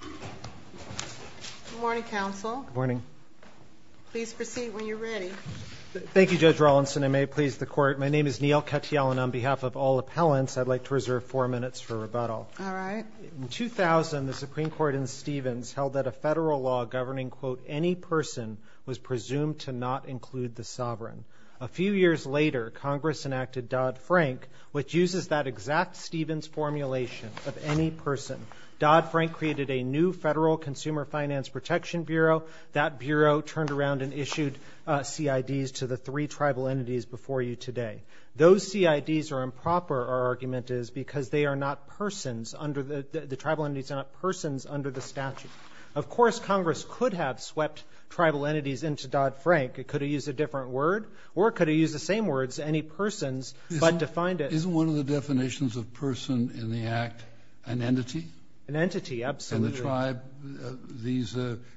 Good morning, counsel. Good morning. Please proceed when you're ready. Thank you, Judge Rawlinson. I may please the Court. My name is Neal Katyal, and on behalf of all appellants, I'd like to reserve four minutes for rebuttal. All right. In 2000, the Supreme Court in Stevens held that a federal law governing, quote, any person was presumed to not include the sovereign. A few years later, Congress enacted Dodd-Frank, which uses that exact Stevens formulation of any person. Dodd-Frank created a new Federal Consumer Finance Protection Bureau. That bureau turned around and issued CIDs to the three tribal entities before you today. Those CIDs are improper, our argument is, because they are not persons under the – the tribal entities are not persons under the statute. Of course, Congress could have swept tribal entities into Dodd-Frank. It could have used a different word or it could have used the same words, any persons, but defined it. Isn't one of the definitions of person in the Act an entity? An entity, absolutely. And the tribe, these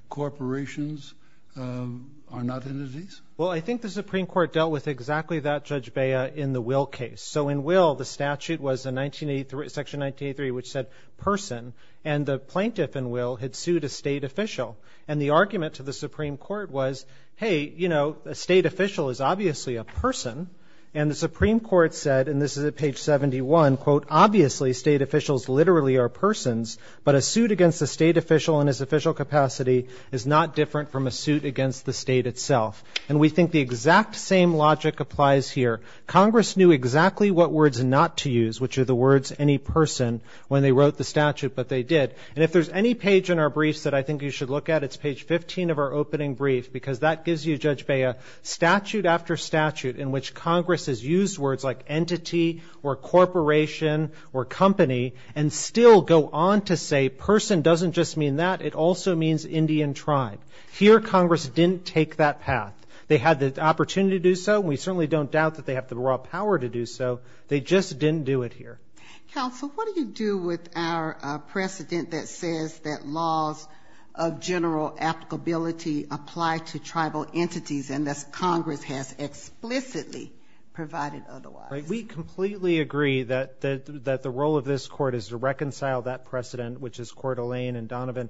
corporations are not entities? Well, I think the Supreme Court dealt with exactly that, Judge Bea, in the Will case. So in Will, the statute was in 1983, Section 1983, which said person, and the plaintiff in Will had sued a State official. And the argument to the Supreme Court was, hey, you know, a State official is obviously a person. And the Supreme Court said, and this is at page 71, quote, obviously State officials literally are persons, but a suit against a State official in his official capacity is not different from a suit against the State itself. And we think the exact same logic applies here. Congress knew exactly what words not to use, which are the words any person, when they wrote the statute, but they did. And if there's any page in our briefs that I think you should look at, it's page 15 of our opening brief, because that gives you, Judge Bea, statute after statute in which Congress has used words like entity or corporation or company, and still go on to say person doesn't just mean that. It also means Indian tribe. Here Congress didn't take that path. They had the opportunity to do so, and we certainly don't doubt that they have the raw power to do so. They just didn't do it here. Sotomayor. Counsel, what do you do with our precedent that says that laws of general applicability apply to tribal entities, unless Congress has explicitly provided otherwise? We completely agree that the role of this Court is to reconcile that precedent, which is Coeur d'Alene and Donovan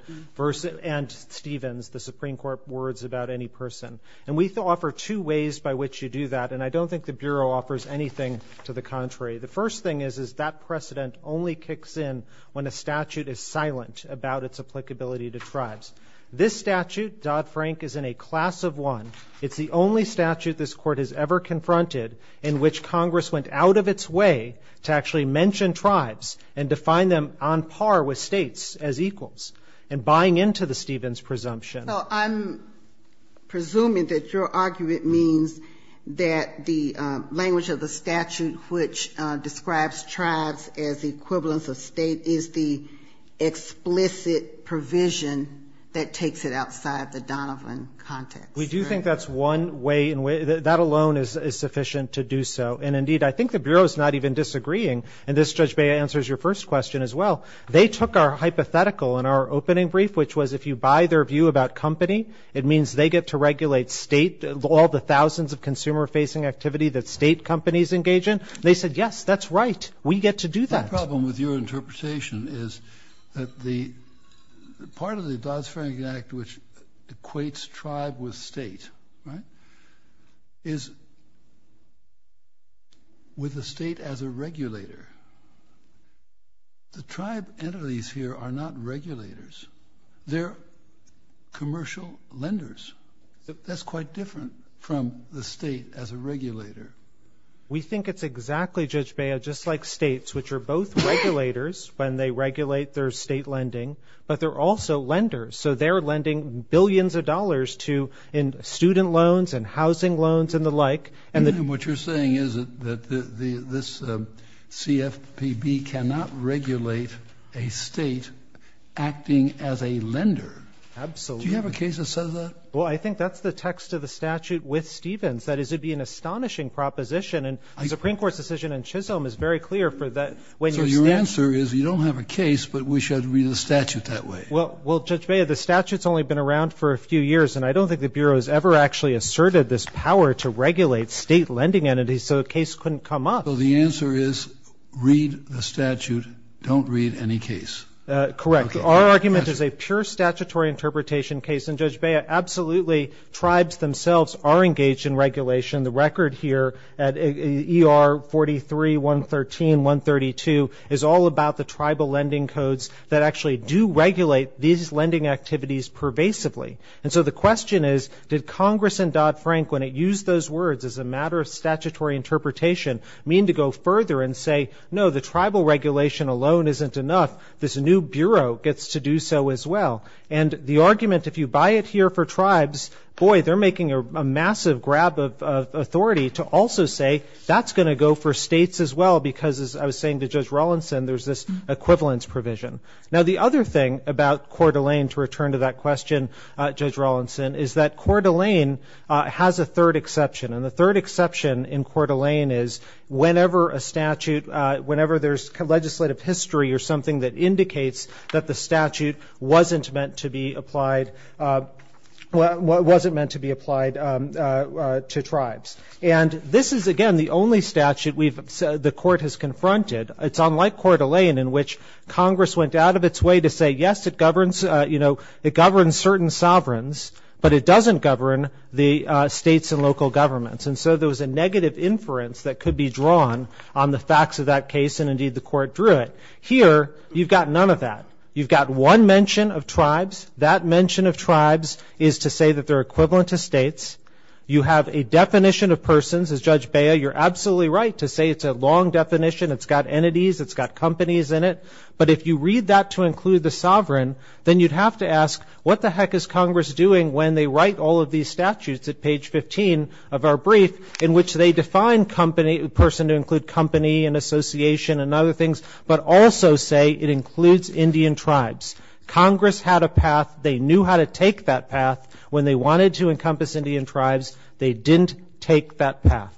and Stevens, the Supreme Court words about any person. And we offer two ways by which you do that, and I don't think the Bureau offers anything to the contrary. The first thing is, is that precedent only kicks in when a statute is silent about its applicability to tribes. This statute, Dodd-Frank, is in a class of one. It's the only statute this Court has ever confronted in which Congress went out of its way to actually mention tribes and define them on par with states as equals, and buying into the Stevens presumption. So I'm presuming that your argument means that the language of the statute, which describes tribes as equivalents of state, is the explicit provision that takes it outside the Donovan context. We do think that's one way, and that alone is sufficient to do so. And, indeed, I think the Bureau is not even disagreeing, and this, Judge Beyer, answers your first question as well. They took our hypothetical in our opening brief, which was if you buy their view about company, it means they get to regulate state, all the thousands of consumer-facing activity that state companies engage in. They said, yes, that's right. We get to do that. The problem with your interpretation is that part of the Dodd-Frank Act, which equates tribe with state, right, is with the state as a regulator. The tribe entities here are not regulators. They're commercial lenders. That's quite different from the state as a regulator. We think it's exactly, Judge Beyer, just like states, which are both regulators when they regulate their state lending, but they're also lenders. So they're lending billions of dollars to student loans and housing loans and the like. And what you're saying is that this CFPB cannot regulate a state acting as a lender. Absolutely. Do you have a case that says that? Well, I think that's the text of the statute with Stevens. That is, it would be an astonishing proposition. And the Supreme Court's decision in Chisholm is very clear for that. So your answer is you don't have a case, but we should read the statute that way. Well, Judge Beyer, the statute's only been around for a few years, and I don't think the Bureau has ever actually asserted this power to regulate state lending entities, so a case couldn't come up. So the answer is read the statute, don't read any case. Correct. Our argument is a pure statutory interpretation case. And, Judge Beyer, absolutely tribes themselves are engaged in regulation. The record here at ER 43, 113, 132, is all about the tribal lending codes that actually do regulate these lending activities pervasively. And so the question is, did Congress and Dodd-Frank, when it used those words as a matter of statutory interpretation, mean to go further and say, no, the tribal regulation alone isn't enough, this new Bureau gets to do so as well. And the argument, if you buy it here for tribes, boy, they're making a massive grab of authority to also say that's going to go for states as well, because as I was saying to Judge Rawlinson, there's this equivalence provision. Now, the other thing about Coeur d'Alene, to return to that question, Judge Rawlinson, is that Coeur d'Alene has a third exception. And the third exception in Coeur d'Alene is whenever a statute, whenever there's legislative history or something that indicates that the statute wasn't meant to be applied to tribes. And this is, again, the only statute the court has confronted. It's unlike Coeur d'Alene, in which Congress went out of its way to say, yes, it governs certain sovereigns, but it doesn't govern the states and local governments. And so there was a negative inference that could be drawn on the facts of that case, and indeed the court drew it. Here, you've got none of that. You've got one mention of tribes. That mention of tribes is to say that they're equivalent to states. You have a definition of persons. As Judge Bea, you're absolutely right to say it's a long definition. It's got entities. It's got companies in it. But if you read that to include the sovereign, then you'd have to ask, what the heck is Congress doing when they write all of these statutes at page 15 of our brief, in which they define person to include company and association and other things, but also say it includes Indian tribes? Congress had a path. They knew how to take that path. When they wanted to encompass Indian tribes, they didn't take that path.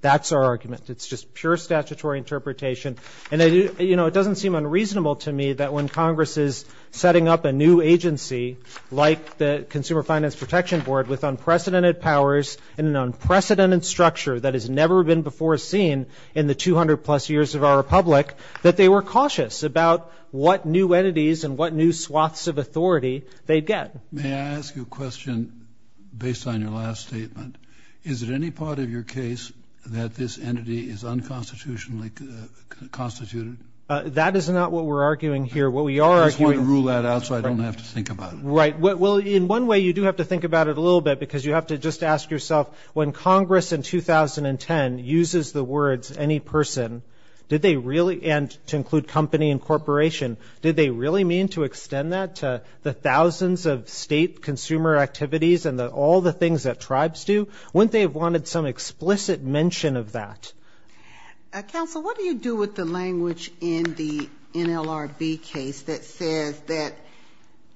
That's our argument. It's just pure statutory interpretation. And, you know, it doesn't seem unreasonable to me that when Congress is setting up a new agency, like the Consumer Finance Protection Board with unprecedented powers and an unprecedented structure that has never been before seen in the 200-plus years of our republic, that they were cautious about what new entities and what new swaths of authority they'd get. May I ask you a question based on your last statement? Is it any part of your case that this entity is unconstitutionally constituted? That is not what we're arguing here. I just want to rule that out so I don't have to think about it. Right. Well, in one way you do have to think about it a little bit, because you have to just ask yourself when Congress in 2010 uses the words any person, did they really, and to include company and corporation, did they really mean to extend that to the thousands of state consumer activities and all the things that tribes do? Wouldn't they have wanted some explicit mention of that? Counsel, what do you do with the language in the NLRB case that says that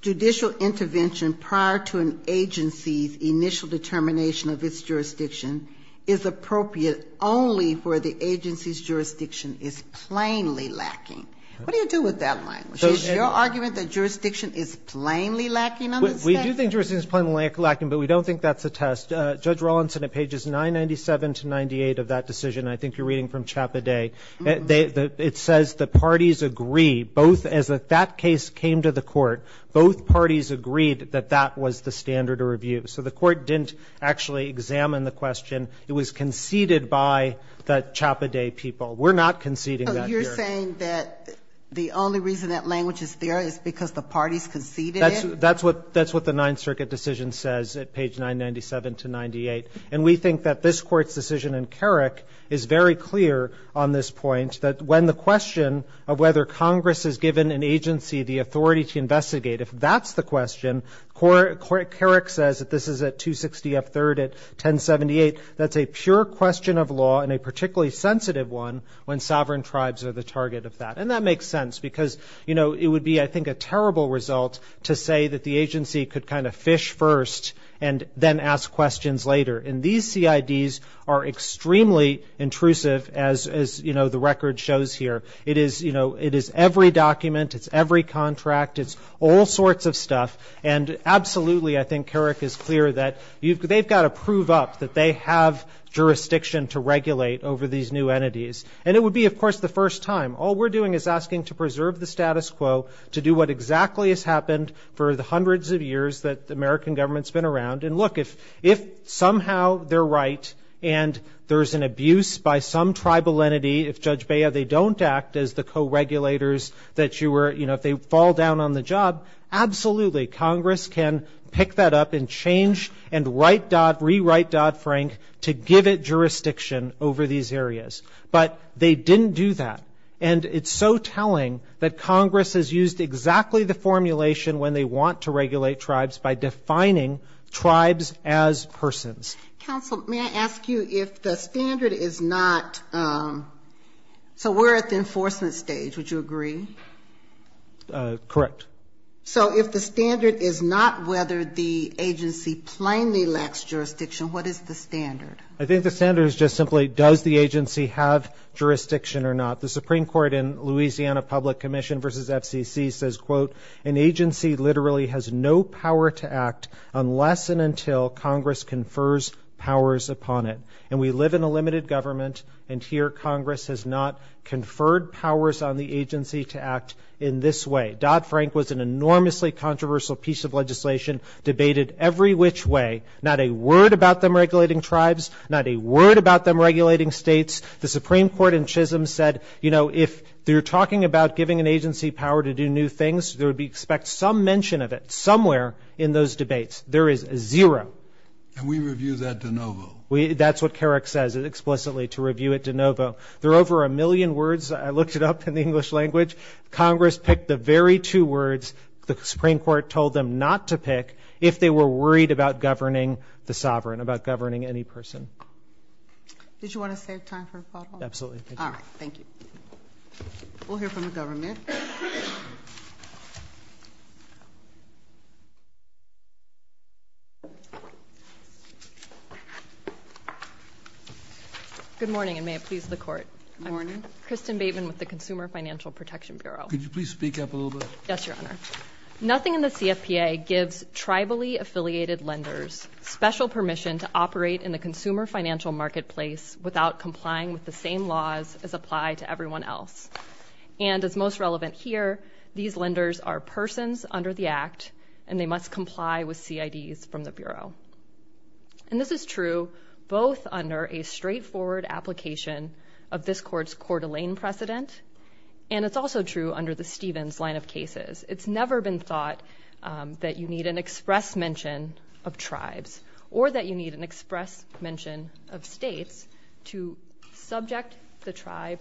judicial intervention prior to an agency's initial determination of its jurisdiction is appropriate only where the agency's jurisdiction is plainly lacking? What do you do with that language? Is your argument that jurisdiction is plainly lacking on this case? We do think jurisdiction is plainly lacking, but we don't think that's a test. Judge Rawlinson, at pages 997 to 98 of that decision, I think you're reading from Chappaday, it says the parties agree, both as that case came to the court, both parties agreed that that was the standard of review. So the court didn't actually examine the question. It was conceded by the Chappaday people. We're not conceding that here. Oh, you're saying that the only reason that language is there is because the parties conceded it? That's what the Ninth Circuit decision says at page 997 to 98. And we think that this Court's decision in Carrick is very clear on this point, that when the question of whether Congress has given an agency the authority to investigate, if that's the question, Carrick says that this is a 260F3rd at 1078. That's a pure question of law and a particularly sensitive one when sovereign tribes are the target of that. And that makes sense because, you know, it would be, I think, a terrible result to say that the agency could kind of fish first and then ask questions later. And these CIDs are extremely intrusive, as, you know, the record shows here. It is, you know, it is every document, it's every contract, it's all sorts of stuff. And absolutely, I think Carrick is clear that they've got to prove up that they have jurisdiction to regulate over these new entities. And it would be, of course, the first time. All we're doing is asking to preserve the status quo, to do what exactly has happened for the hundreds of years that the American government's been around. And look, if somehow they're right and there's an abuse by some tribal entity, if Judge Bea, they don't act as the co-regulators that you were, you know, if they fall down on the job, absolutely, Congress can pick that up and change and rewrite Dodd-Frank to give it jurisdiction over these areas. But they didn't do that. And it's so telling that Congress has used exactly the formulation when they want to regulate tribes by defining tribes as persons. Counsel, may I ask you if the standard is not, so we're at the enforcement stage, would you agree? Correct. So if the standard is not whether the agency plainly lacks jurisdiction, what is the standard? I think the standard is just simply does the agency have jurisdiction or not. The Supreme Court in Louisiana Public Commission v. FCC says, quote, an agency literally has no power to act unless and until Congress confers powers upon it. And we live in a limited government, and here Congress has not conferred powers on the agency to act in this way. Dodd-Frank was an enormously controversial piece of legislation, debated every which way, not a word about them regulating tribes, not a word about them regulating states. The Supreme Court in Chisholm said, you know, if you're talking about giving an agency power to do new things, there would be some mention of it somewhere in those debates. There is zero. And we review that de novo. That's what Carrick says explicitly, to review it de novo. There are over a million words, I looked it up in the English language. Congress picked the very two words the Supreme Court told them not to pick if they were worried about governing the sovereign, about governing any person. Did you want to save time for a follow-up? Absolutely. All right. Thank you. We'll hear from the government. Good morning, and may it please the Court. Good morning. Kristen Bateman with the Consumer Financial Protection Bureau. Could you please speak up a little bit? Yes, Your Honor. Nothing in the CFPA gives tribally-affiliated lenders special permission to operate in the consumer financial marketplace without complying with the same laws as apply to everyone else. And as most relevant here, these lenders are persons under the Act, and they must comply with CIDs from the Bureau. And this is true both under a straightforward application of this Court's Coeur d'Alene precedent, and it's also true under the Stevens line of cases. It's never been thought that you need an express mention of tribes or that you need an express mention of states to subject the tribe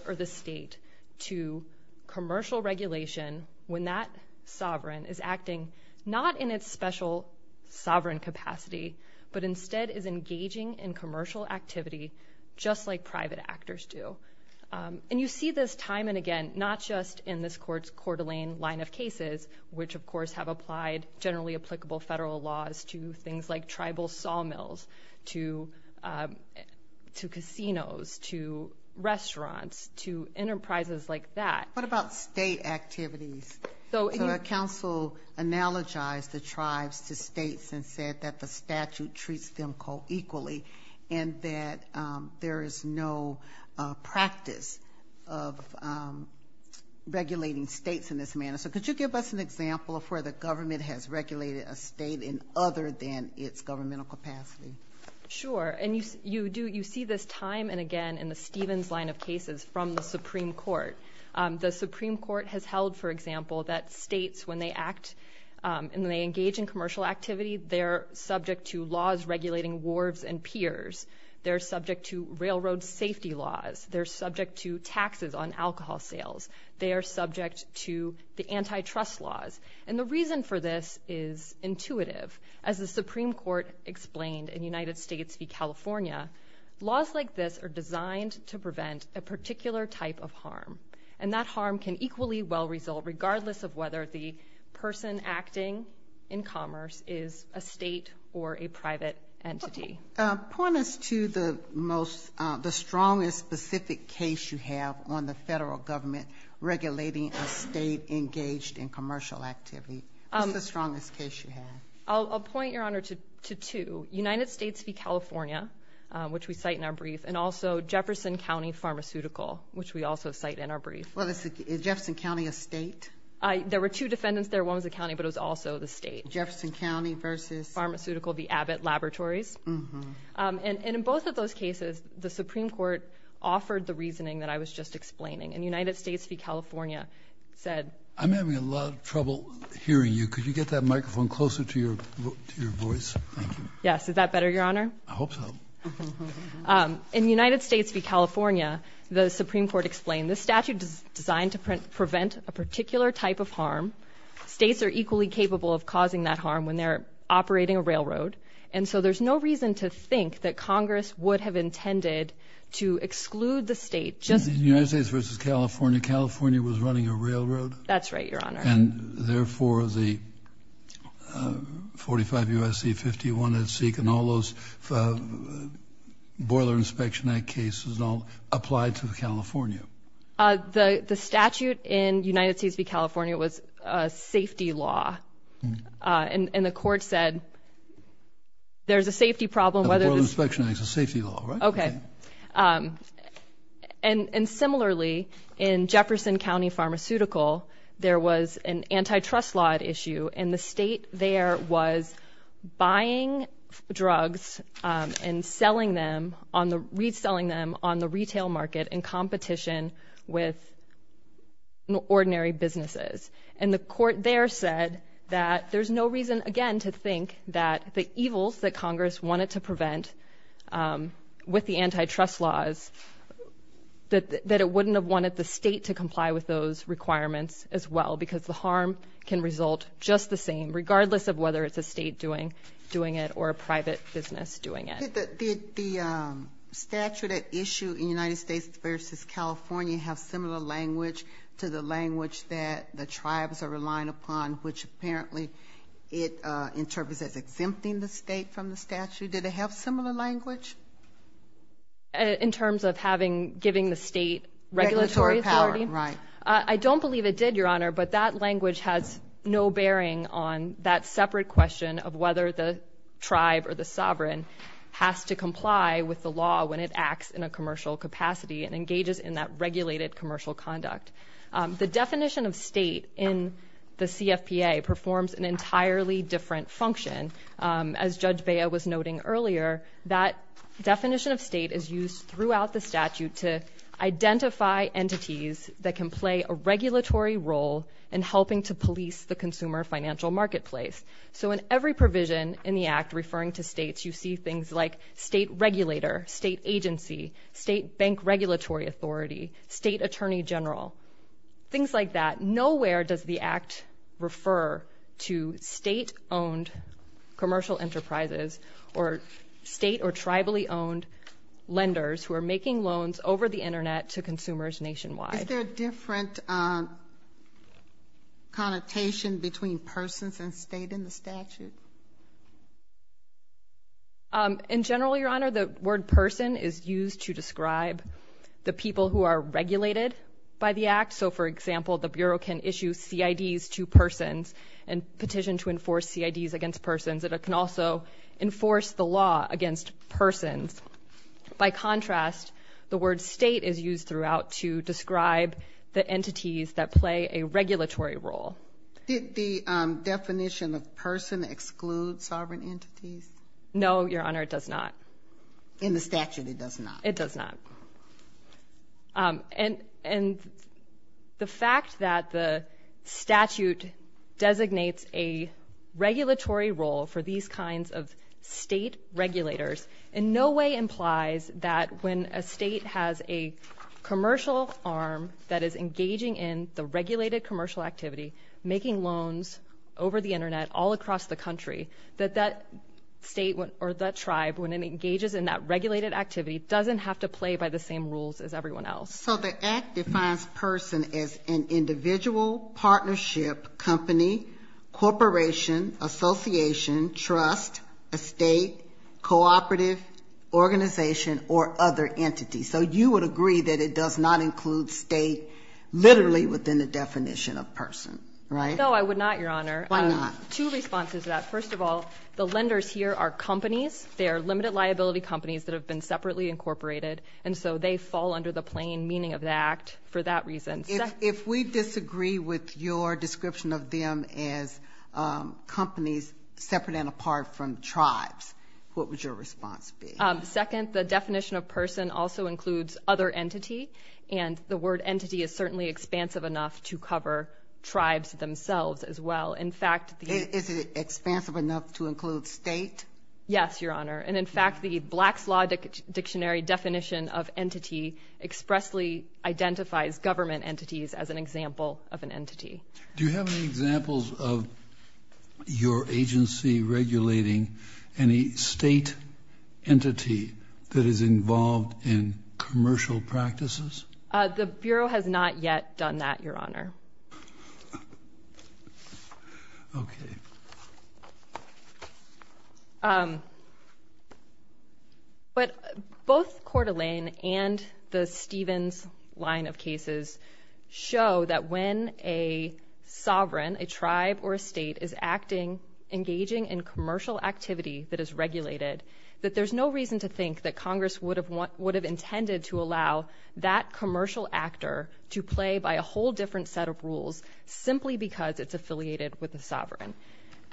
not in its special sovereign capacity, but instead is engaging in commercial activity just like private actors do. And you see this time and again, not just in this Court's Coeur d'Alene line of cases, which, of course, have applied generally-applicable federal laws to things like tribal sawmills, to casinos, to restaurants, to enterprises like that. What about state activities? So the council analogized the tribes to states and said that the statute treats them co-equally and that there is no practice of regulating states in this manner. So could you give us an example of where the government has regulated a state in other than its governmental capacity? Sure, and you see this time and again in the Stevens line of cases from the Supreme Court. The Supreme Court has held, for example, that states, when they act and they engage in commercial activity, they're subject to laws regulating wharves and piers. They're subject to railroad safety laws. They're subject to taxes on alcohol sales. They are subject to the antitrust laws. And the reason for this is intuitive. As the Supreme Court explained in United States v. California, laws like this are designed to prevent a particular type of harm, and that harm can equally well result regardless of whether the person acting in commerce is a state or a private entity. Point us to the strongest specific case you have on the federal government regulating a state engaged in commercial activity. What's the strongest case you have? I'll point, Your Honor, to two. United States v. California, which we cite in our brief, and also Jefferson County Pharmaceutical, which we also cite in our brief. Well, is Jefferson County a state? There were two defendants there. One was a county, but it was also the state. Jefferson County versus? Pharmaceutical v. Abbott Laboratories. And in both of those cases, the Supreme Court offered the reasoning that I was just explaining. And United States v. California said. I'm having a lot of trouble hearing you. Could you get that microphone closer to your voice? Yes. Is that better, Your Honor? I hope so. In United States v. California, the Supreme Court explained, this statute is designed to prevent a particular type of harm. States are equally capable of causing that harm when they're operating a railroad. And so there's no reason to think that Congress would have intended to exclude the state. United States versus California. California was running a railroad. That's right, Your Honor. And, therefore, the 45 U.S.C. 51 at Seek and all those Boiler Inspection Act cases all applied to California. The statute in United States v. California was a safety law. And the court said there's a safety problem. The Boiler Inspection Act is a safety law, right? Okay. And, similarly, in Jefferson County Pharmaceutical, there was an antitrust law at issue. And the state there was buying drugs and reselling them on the retail market in competition with ordinary businesses. And the court there said that there's no reason, again, to think that the evils that Congress wanted to prevent with the antitrust laws, that it wouldn't have wanted the state to comply with those requirements as well, because the harm can result just the same, regardless of whether it's a state doing it or a private business doing it. Did the statute at issue in United States v. California have similar language to the language that the tribes are relying upon, which apparently it interprets as exempting the state from the statute? Did it have similar language? In terms of giving the state regulatory authority? Regulatory power, right. I don't believe it did, Your Honor, but that language has no bearing on that separate question of whether the tribe or the sovereign has to comply with the law when it acts in a commercial capacity and engages in that regulated commercial conduct. The definition of state in the CFPA performs an entirely different function. As Judge Bea was noting earlier, that definition of state is used throughout the statute to identify entities that can play a regulatory role in helping to police the consumer financial marketplace. So in every provision in the Act referring to states, you see things like state regulator, state agency, state bank regulatory authority, state attorney general, things like that. Nowhere does the Act refer to state-owned commercial enterprises or state or tribally-owned lenders who are making loans over the Internet to consumers nationwide. Is there a different connotation between persons and state in the statute? In general, Your Honor, the word person is used to describe the people who are regulated by the Act. So, for example, the Bureau can issue CIDs to persons and petition to enforce CIDs against persons. It can also enforce the law against persons. By contrast, the word state is used throughout to describe the entities that play a regulatory role. Did the definition of person exclude sovereign entities? No, Your Honor, it does not. In the statute, it does not? It does not. And the fact that the statute designates a regulatory role for these kinds of state regulators in no way implies that when a state has a commercial arm that is engaging in the regulated commercial activity, making loans over the Internet all across the country, that that state or that tribe, when it engages in that regulated activity, doesn't have to play by the same rules as everyone else. So the Act defines person as an individual, partnership, company, corporation, association, trust, estate, cooperative, organization, or other entity. So you would agree that it does not include state literally within the definition of person, right? No, I would not, Your Honor. Why not? Two responses to that. First of all, the lenders here are companies. They are limited liability companies that have been separately incorporated, and so they fall under the plain meaning of the Act for that reason. If we disagree with your description of them as companies separate and apart from tribes, what would your response be? Second, the definition of person also includes other entity, and the word entity is certainly expansive enough to cover tribes themselves as well. Is it expansive enough to include state? Yes, Your Honor. And, in fact, the Blacks Law Dictionary definition of entity expressly identifies government entities as an example of an entity. Do you have any examples of your agency regulating any state entity that is involved in commercial practices? The Bureau has not yet done that, Your Honor. Okay. But both Coeur d'Alene and the Stevens line of cases show that when a sovereign, a tribe or a state is acting, engaging in commercial activity that is regulated, that there's no reason to think that Congress would have intended to allow that commercial actor to play by a whole different set of rules simply because it's affiliated with the sovereign.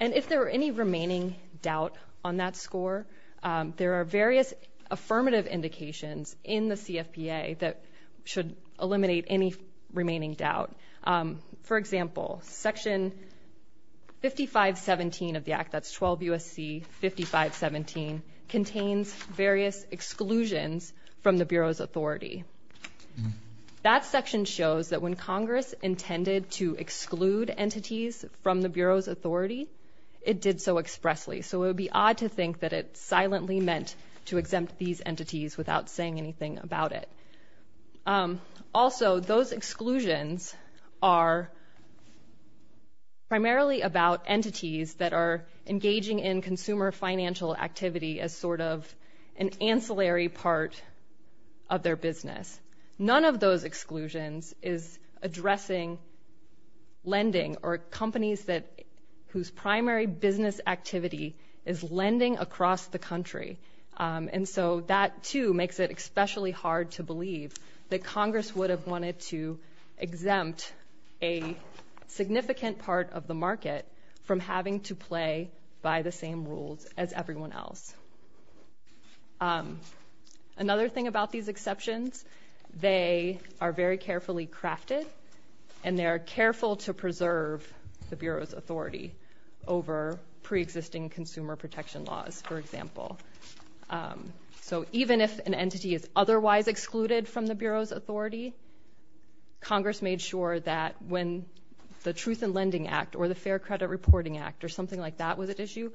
And if there are any remaining doubt on that score, there are various affirmative indications in the CFPA that should eliminate any remaining doubt. For example, Section 5517 of the Act, that's 12 U.S.C. 5517, contains various exclusions from the Bureau's authority. That section shows that when Congress intended to exclude entities from the Bureau's authority, it did so expressly. So it would be odd to think that it silently meant to exempt these entities without saying anything about it. Also, those exclusions are primarily about entities that are engaging in consumer financial activity as sort of an ancillary part of their business. None of those exclusions is addressing lending or companies whose primary business activity is lending across the country. And so that, too, makes it especially hard to believe that Congress would have wanted to exempt a significant part of the market from having to play by the same rules as everyone else. Another thing about these exceptions, they are very carefully crafted, and they are careful to preserve the Bureau's authority over preexisting consumer protection laws, for example. So even if an entity is otherwise excluded from the Bureau's authority, Congress made sure that when the Truth in Lending Act or the Fair Credit Reporting Act or something like that was at issue,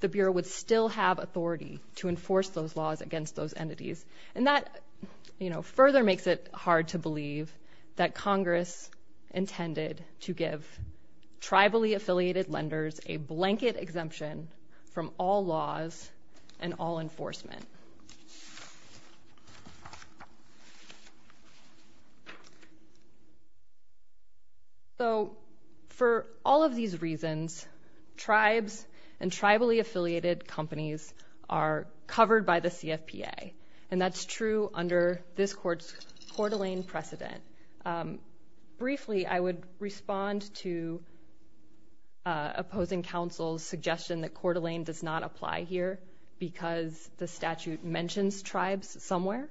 the Bureau would still have authority to enforce those laws against those entities. And that, you know, further makes it hard to believe that Congress intended to give tribally affiliated lenders a blanket exemption from all laws and all enforcement. So for all of these reasons, tribes and tribally affiliated companies are covered by the CFPA, and that's true under this Court's Coeur d'Alene precedent. Briefly, I would respond to opposing counsel's suggestion that Coeur d'Alene does not apply here because the statute mentions tribes somewhere.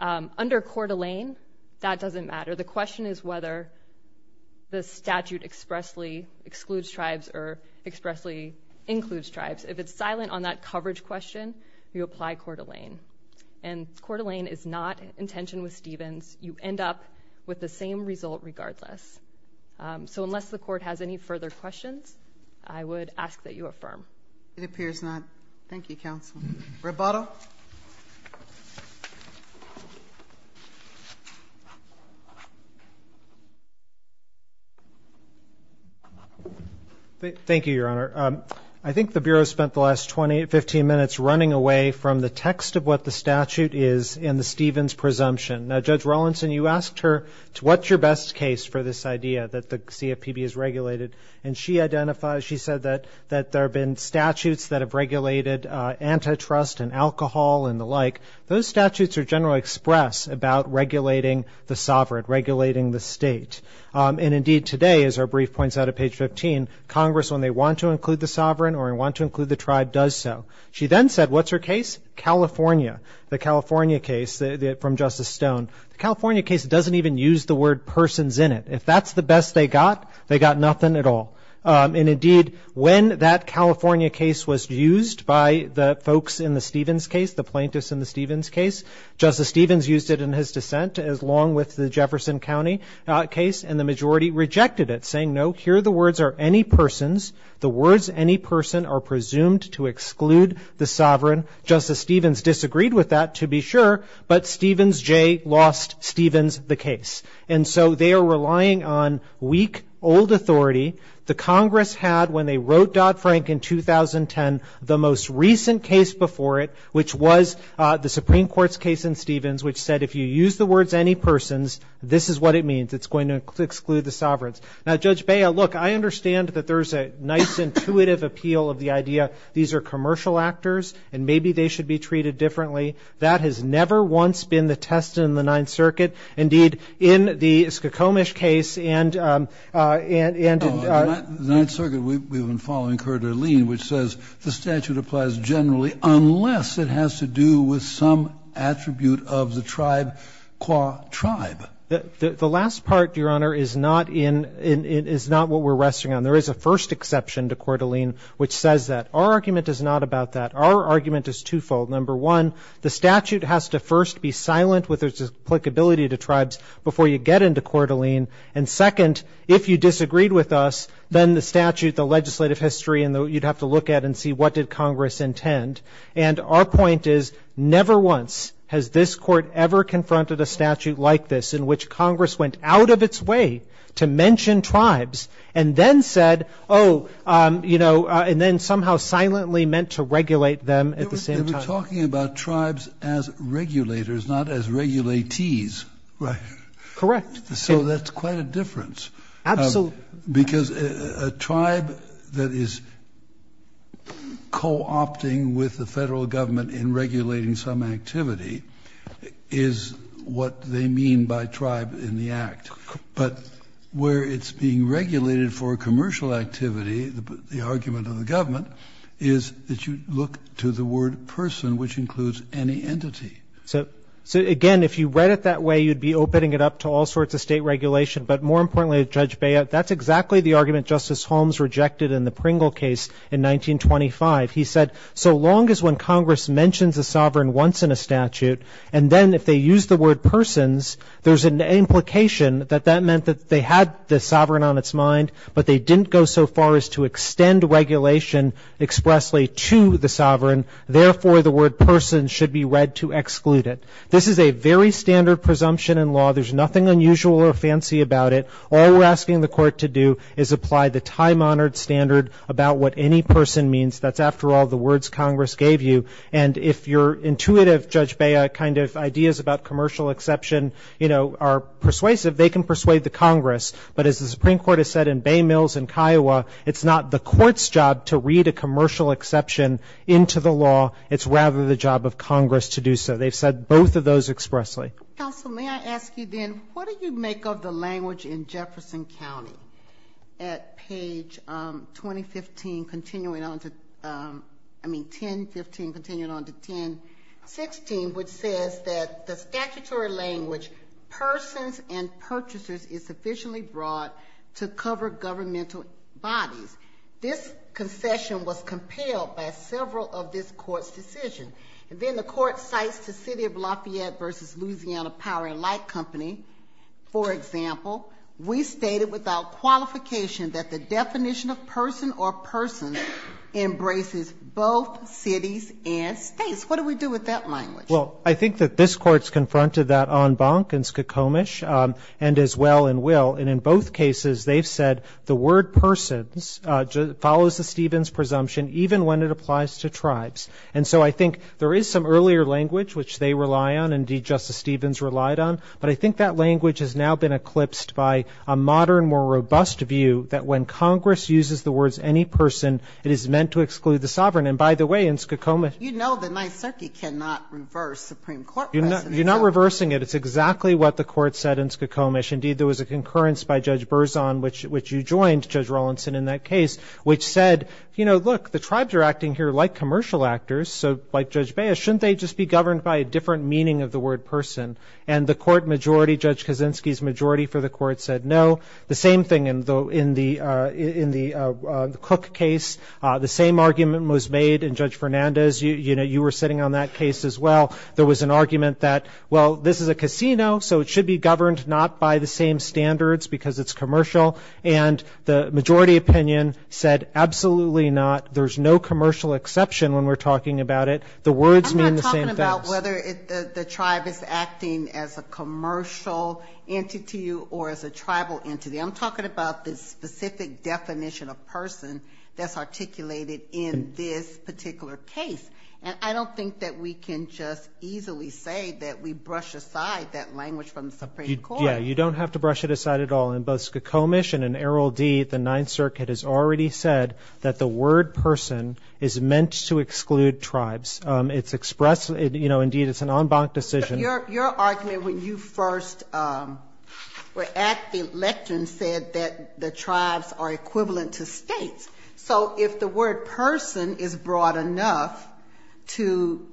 Under Coeur d'Alene, that doesn't matter. The question is whether the statute expressly excludes tribes or expressly includes tribes. If it's silent on that coverage question, you apply Coeur d'Alene. And Coeur d'Alene is not in tension with Stevens. You end up with the same result regardless. So unless the Court has any further questions, I would ask that you affirm. It appears not. Thank you, counsel. Roboto. Thank you, Your Honor. I think the Bureau spent the last 20, 15 minutes running away from the text of what the statute is and the Stevens presumption. Now, Judge Rawlinson, you asked her, what's your best case for this idea that the CFPB is regulated? And she identified, she said that there have been statutes that have regulated antitrust and alcohol and the like. Those statutes are generally expressed about regulating the sovereign, regulating the state. And indeed today, as our brief points out at page 15, Congress, when they want to include the sovereign or want to include the tribe, does so. She then said, what's her case? California, the California case from Justice Stone. The California case doesn't even use the word persons in it. If that's the best they got, they got nothing at all. And indeed, when that California case was used by the folks in the Stevens case, the plaintiffs in the Stevens case, Justice Stevens used it in his dissent, along with the Jefferson County case, and the majority rejected it, saying, no, here the words are any persons. The words any person are presumed to exclude the sovereign. Justice Stevens disagreed with that, to be sure, but Stevens J. lost Stevens the case. And so they are relying on weak, old authority. The Congress had, when they wrote Dodd-Frank in 2010, the most recent case before it, which was the Supreme Court's case in Stevens, which said if you use the words any persons, this is what it means. It's going to exclude the sovereigns. Now, Judge Baya, look, I understand that there's a nice, intuitive appeal of the idea these are commercial actors and maybe they should be treated differently. That has never once been the test in the Ninth Circuit. Indeed, in the Skokomish case and in the Ninth Circuit, we've been following Coeur d'Alene, which says the statute applies generally unless it has to do with some attribute of the tribe, qua tribe. The last part, Your Honor, is not in, is not what we're resting on. There is a first exception to Coeur d'Alene which says that. Our argument is not about that. Our argument is twofold. Number one, the statute has to first be silent with its applicability to tribes before you get into Coeur d'Alene. And second, if you disagreed with us, then the statute, the legislative history, you'd have to look at and see what did Congress intend. And our point is never once has this Court ever confronted a statute like this in which Congress went out of its way to mention tribes and then said, oh, you know, and then somehow silently meant to regulate them at the same time. We're talking about tribes as regulators, not as regulatees. Right. Correct. So that's quite a difference. Absolutely. Because a tribe that is co-opting with the Federal Government in regulating some activity is what they mean by tribe in the Act. So, again, if you read it that way, you'd be opening it up to all sorts of state regulation. But more importantly, Judge Beyo, that's exactly the argument Justice Holmes rejected in the Pringle case in 1925. He said, so long as when Congress mentions a sovereign once in a statute, and then if they use the word persons, there's an implication that that meant that they had the sovereign on its mind, but they didn't go so far as to extend regulation expressly to the sovereign. Therefore, the word persons should be read to exclude it. This is a very standard presumption in law. There's nothing unusual or fancy about it. All we're asking the Court to do is apply the time-honored standard about what any person means. That's, after all, the words Congress gave you. And if your intuitive, Judge Beyo, kind of ideas about commercial exception, you know, are persuasive, they can persuade the Congress. But as the Supreme Court has said in Bay Mills and Kiowa, it's not the Court's job to read a commercial exception into the law. It's rather the job of Congress to do so. They've said both of those expressly. Counsel, may I ask you then, what do you make of the language in Jefferson County at page 2015, continuing on to, I mean 10.15, continuing on to 10.16, which says that the statutory language persons and purchasers is sufficiently broad to cover governmental bodies. This concession was compelled by several of this Court's decisions. And then the Court cites the City of Lafayette v. Louisiana Power and Light Company, for example. We stated without qualification that the definition of person or person embraces both cities and states. What do we do with that language? Well, I think that this Court's confronted that en banc in Skokomish and as well in Will. And in both cases they've said the word persons follows the Stevens presumption even when it applies to tribes. And so I think there is some earlier language which they rely on, indeed Justice Stevens relied on. But I think that language has now been eclipsed by a modern, more robust view that when Congress uses the words any person, it is meant to exclude the sovereign. And by the way, in Skokomish you know that Nyserke cannot reverse Supreme Court precedents. You're not reversing it. It's exactly what the Court said in Skokomish. Indeed, there was a concurrence by Judge Berzon, which you joined, Judge Rawlinson, in that case, which said, you know, look, the tribes are acting here like commercial actors. So like Judge Baez, shouldn't they just be governed by a different meaning of the word person? And the Court majority, Judge Kaczynski's majority for the Court said no. The same thing in the Cook case. The same argument was made in Judge Fernandez. You were sitting on that case as well. There was an argument that, well, this is a casino so it should be governed not by the same standards because it's commercial. And the majority opinion said absolutely not. There's no commercial exception when we're talking about it. The words mean the same things. I'm not talking about whether the tribe is acting as a commercial entity or as a tribal entity. I'm talking about the specific definition of person that's articulated in this particular case. And I don't think that we can just easily say that we brush aside that language from the Supreme Court. Yeah, you don't have to brush it aside at all. In both Skokomish and in Arrold D., the Ninth Circuit has already said that the word person is meant to exclude tribes. It's expressed, you know, indeed it's an en banc decision. Your argument when you first were at the election said that the tribes are equivalent to states. So if the word person is broad enough to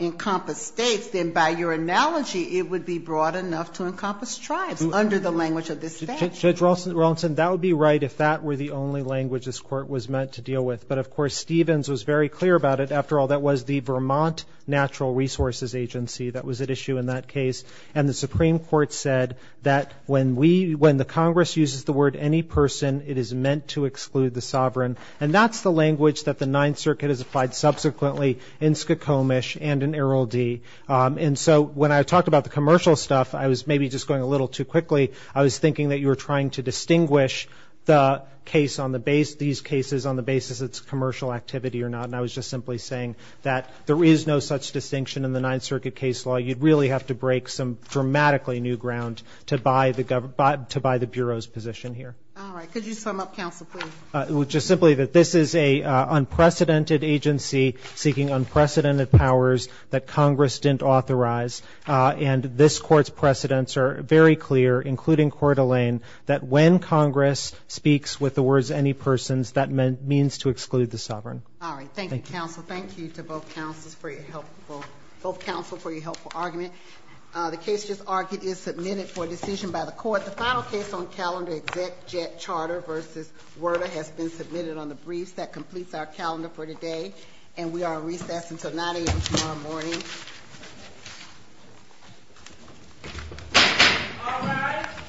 encompass states, then by your analogy it would be broad enough to encompass tribes under the language of this statute. Judge Rawlston, that would be right if that were the only language this Court was meant to deal with. But, of course, Stevens was very clear about it. After all, that was the Vermont Natural Resources Agency that was at issue in that case. And the Supreme Court said that when we, when the Congress uses the word any person, it is meant to exclude the sovereign. And that's the language that the Ninth Circuit has applied subsequently in Skokomish and in Arrold D. And so when I talked about the commercial stuff, I was maybe just going a little too quickly. I was thinking that you were trying to distinguish the case on the base, these cases on the basis it's commercial activity or not. And I was just simply saying that there is no such distinction in the Ninth Circuit case law. You'd really have to break some dramatically new ground to buy the Bureau's position here. All right. Could you sum up, counsel, please? Just simply that this is an unprecedented agency seeking unprecedented powers that Congress didn't authorize. And this Court's precedents are very clear, including Coeur d'Alene, that when Congress speaks with the words any persons, that means to exclude the sovereign. All right. Thank you, counsel. Thank you to both counsels for your helpful, both counsel for your helpful argument. The case just argued is submitted for decision by the Court. The final case on calendar, Exec. Jett Charter v. Werda, has been submitted on the briefs. That completes our calendar for today. And we are on recess until 9 a.m. tomorrow morning. All right.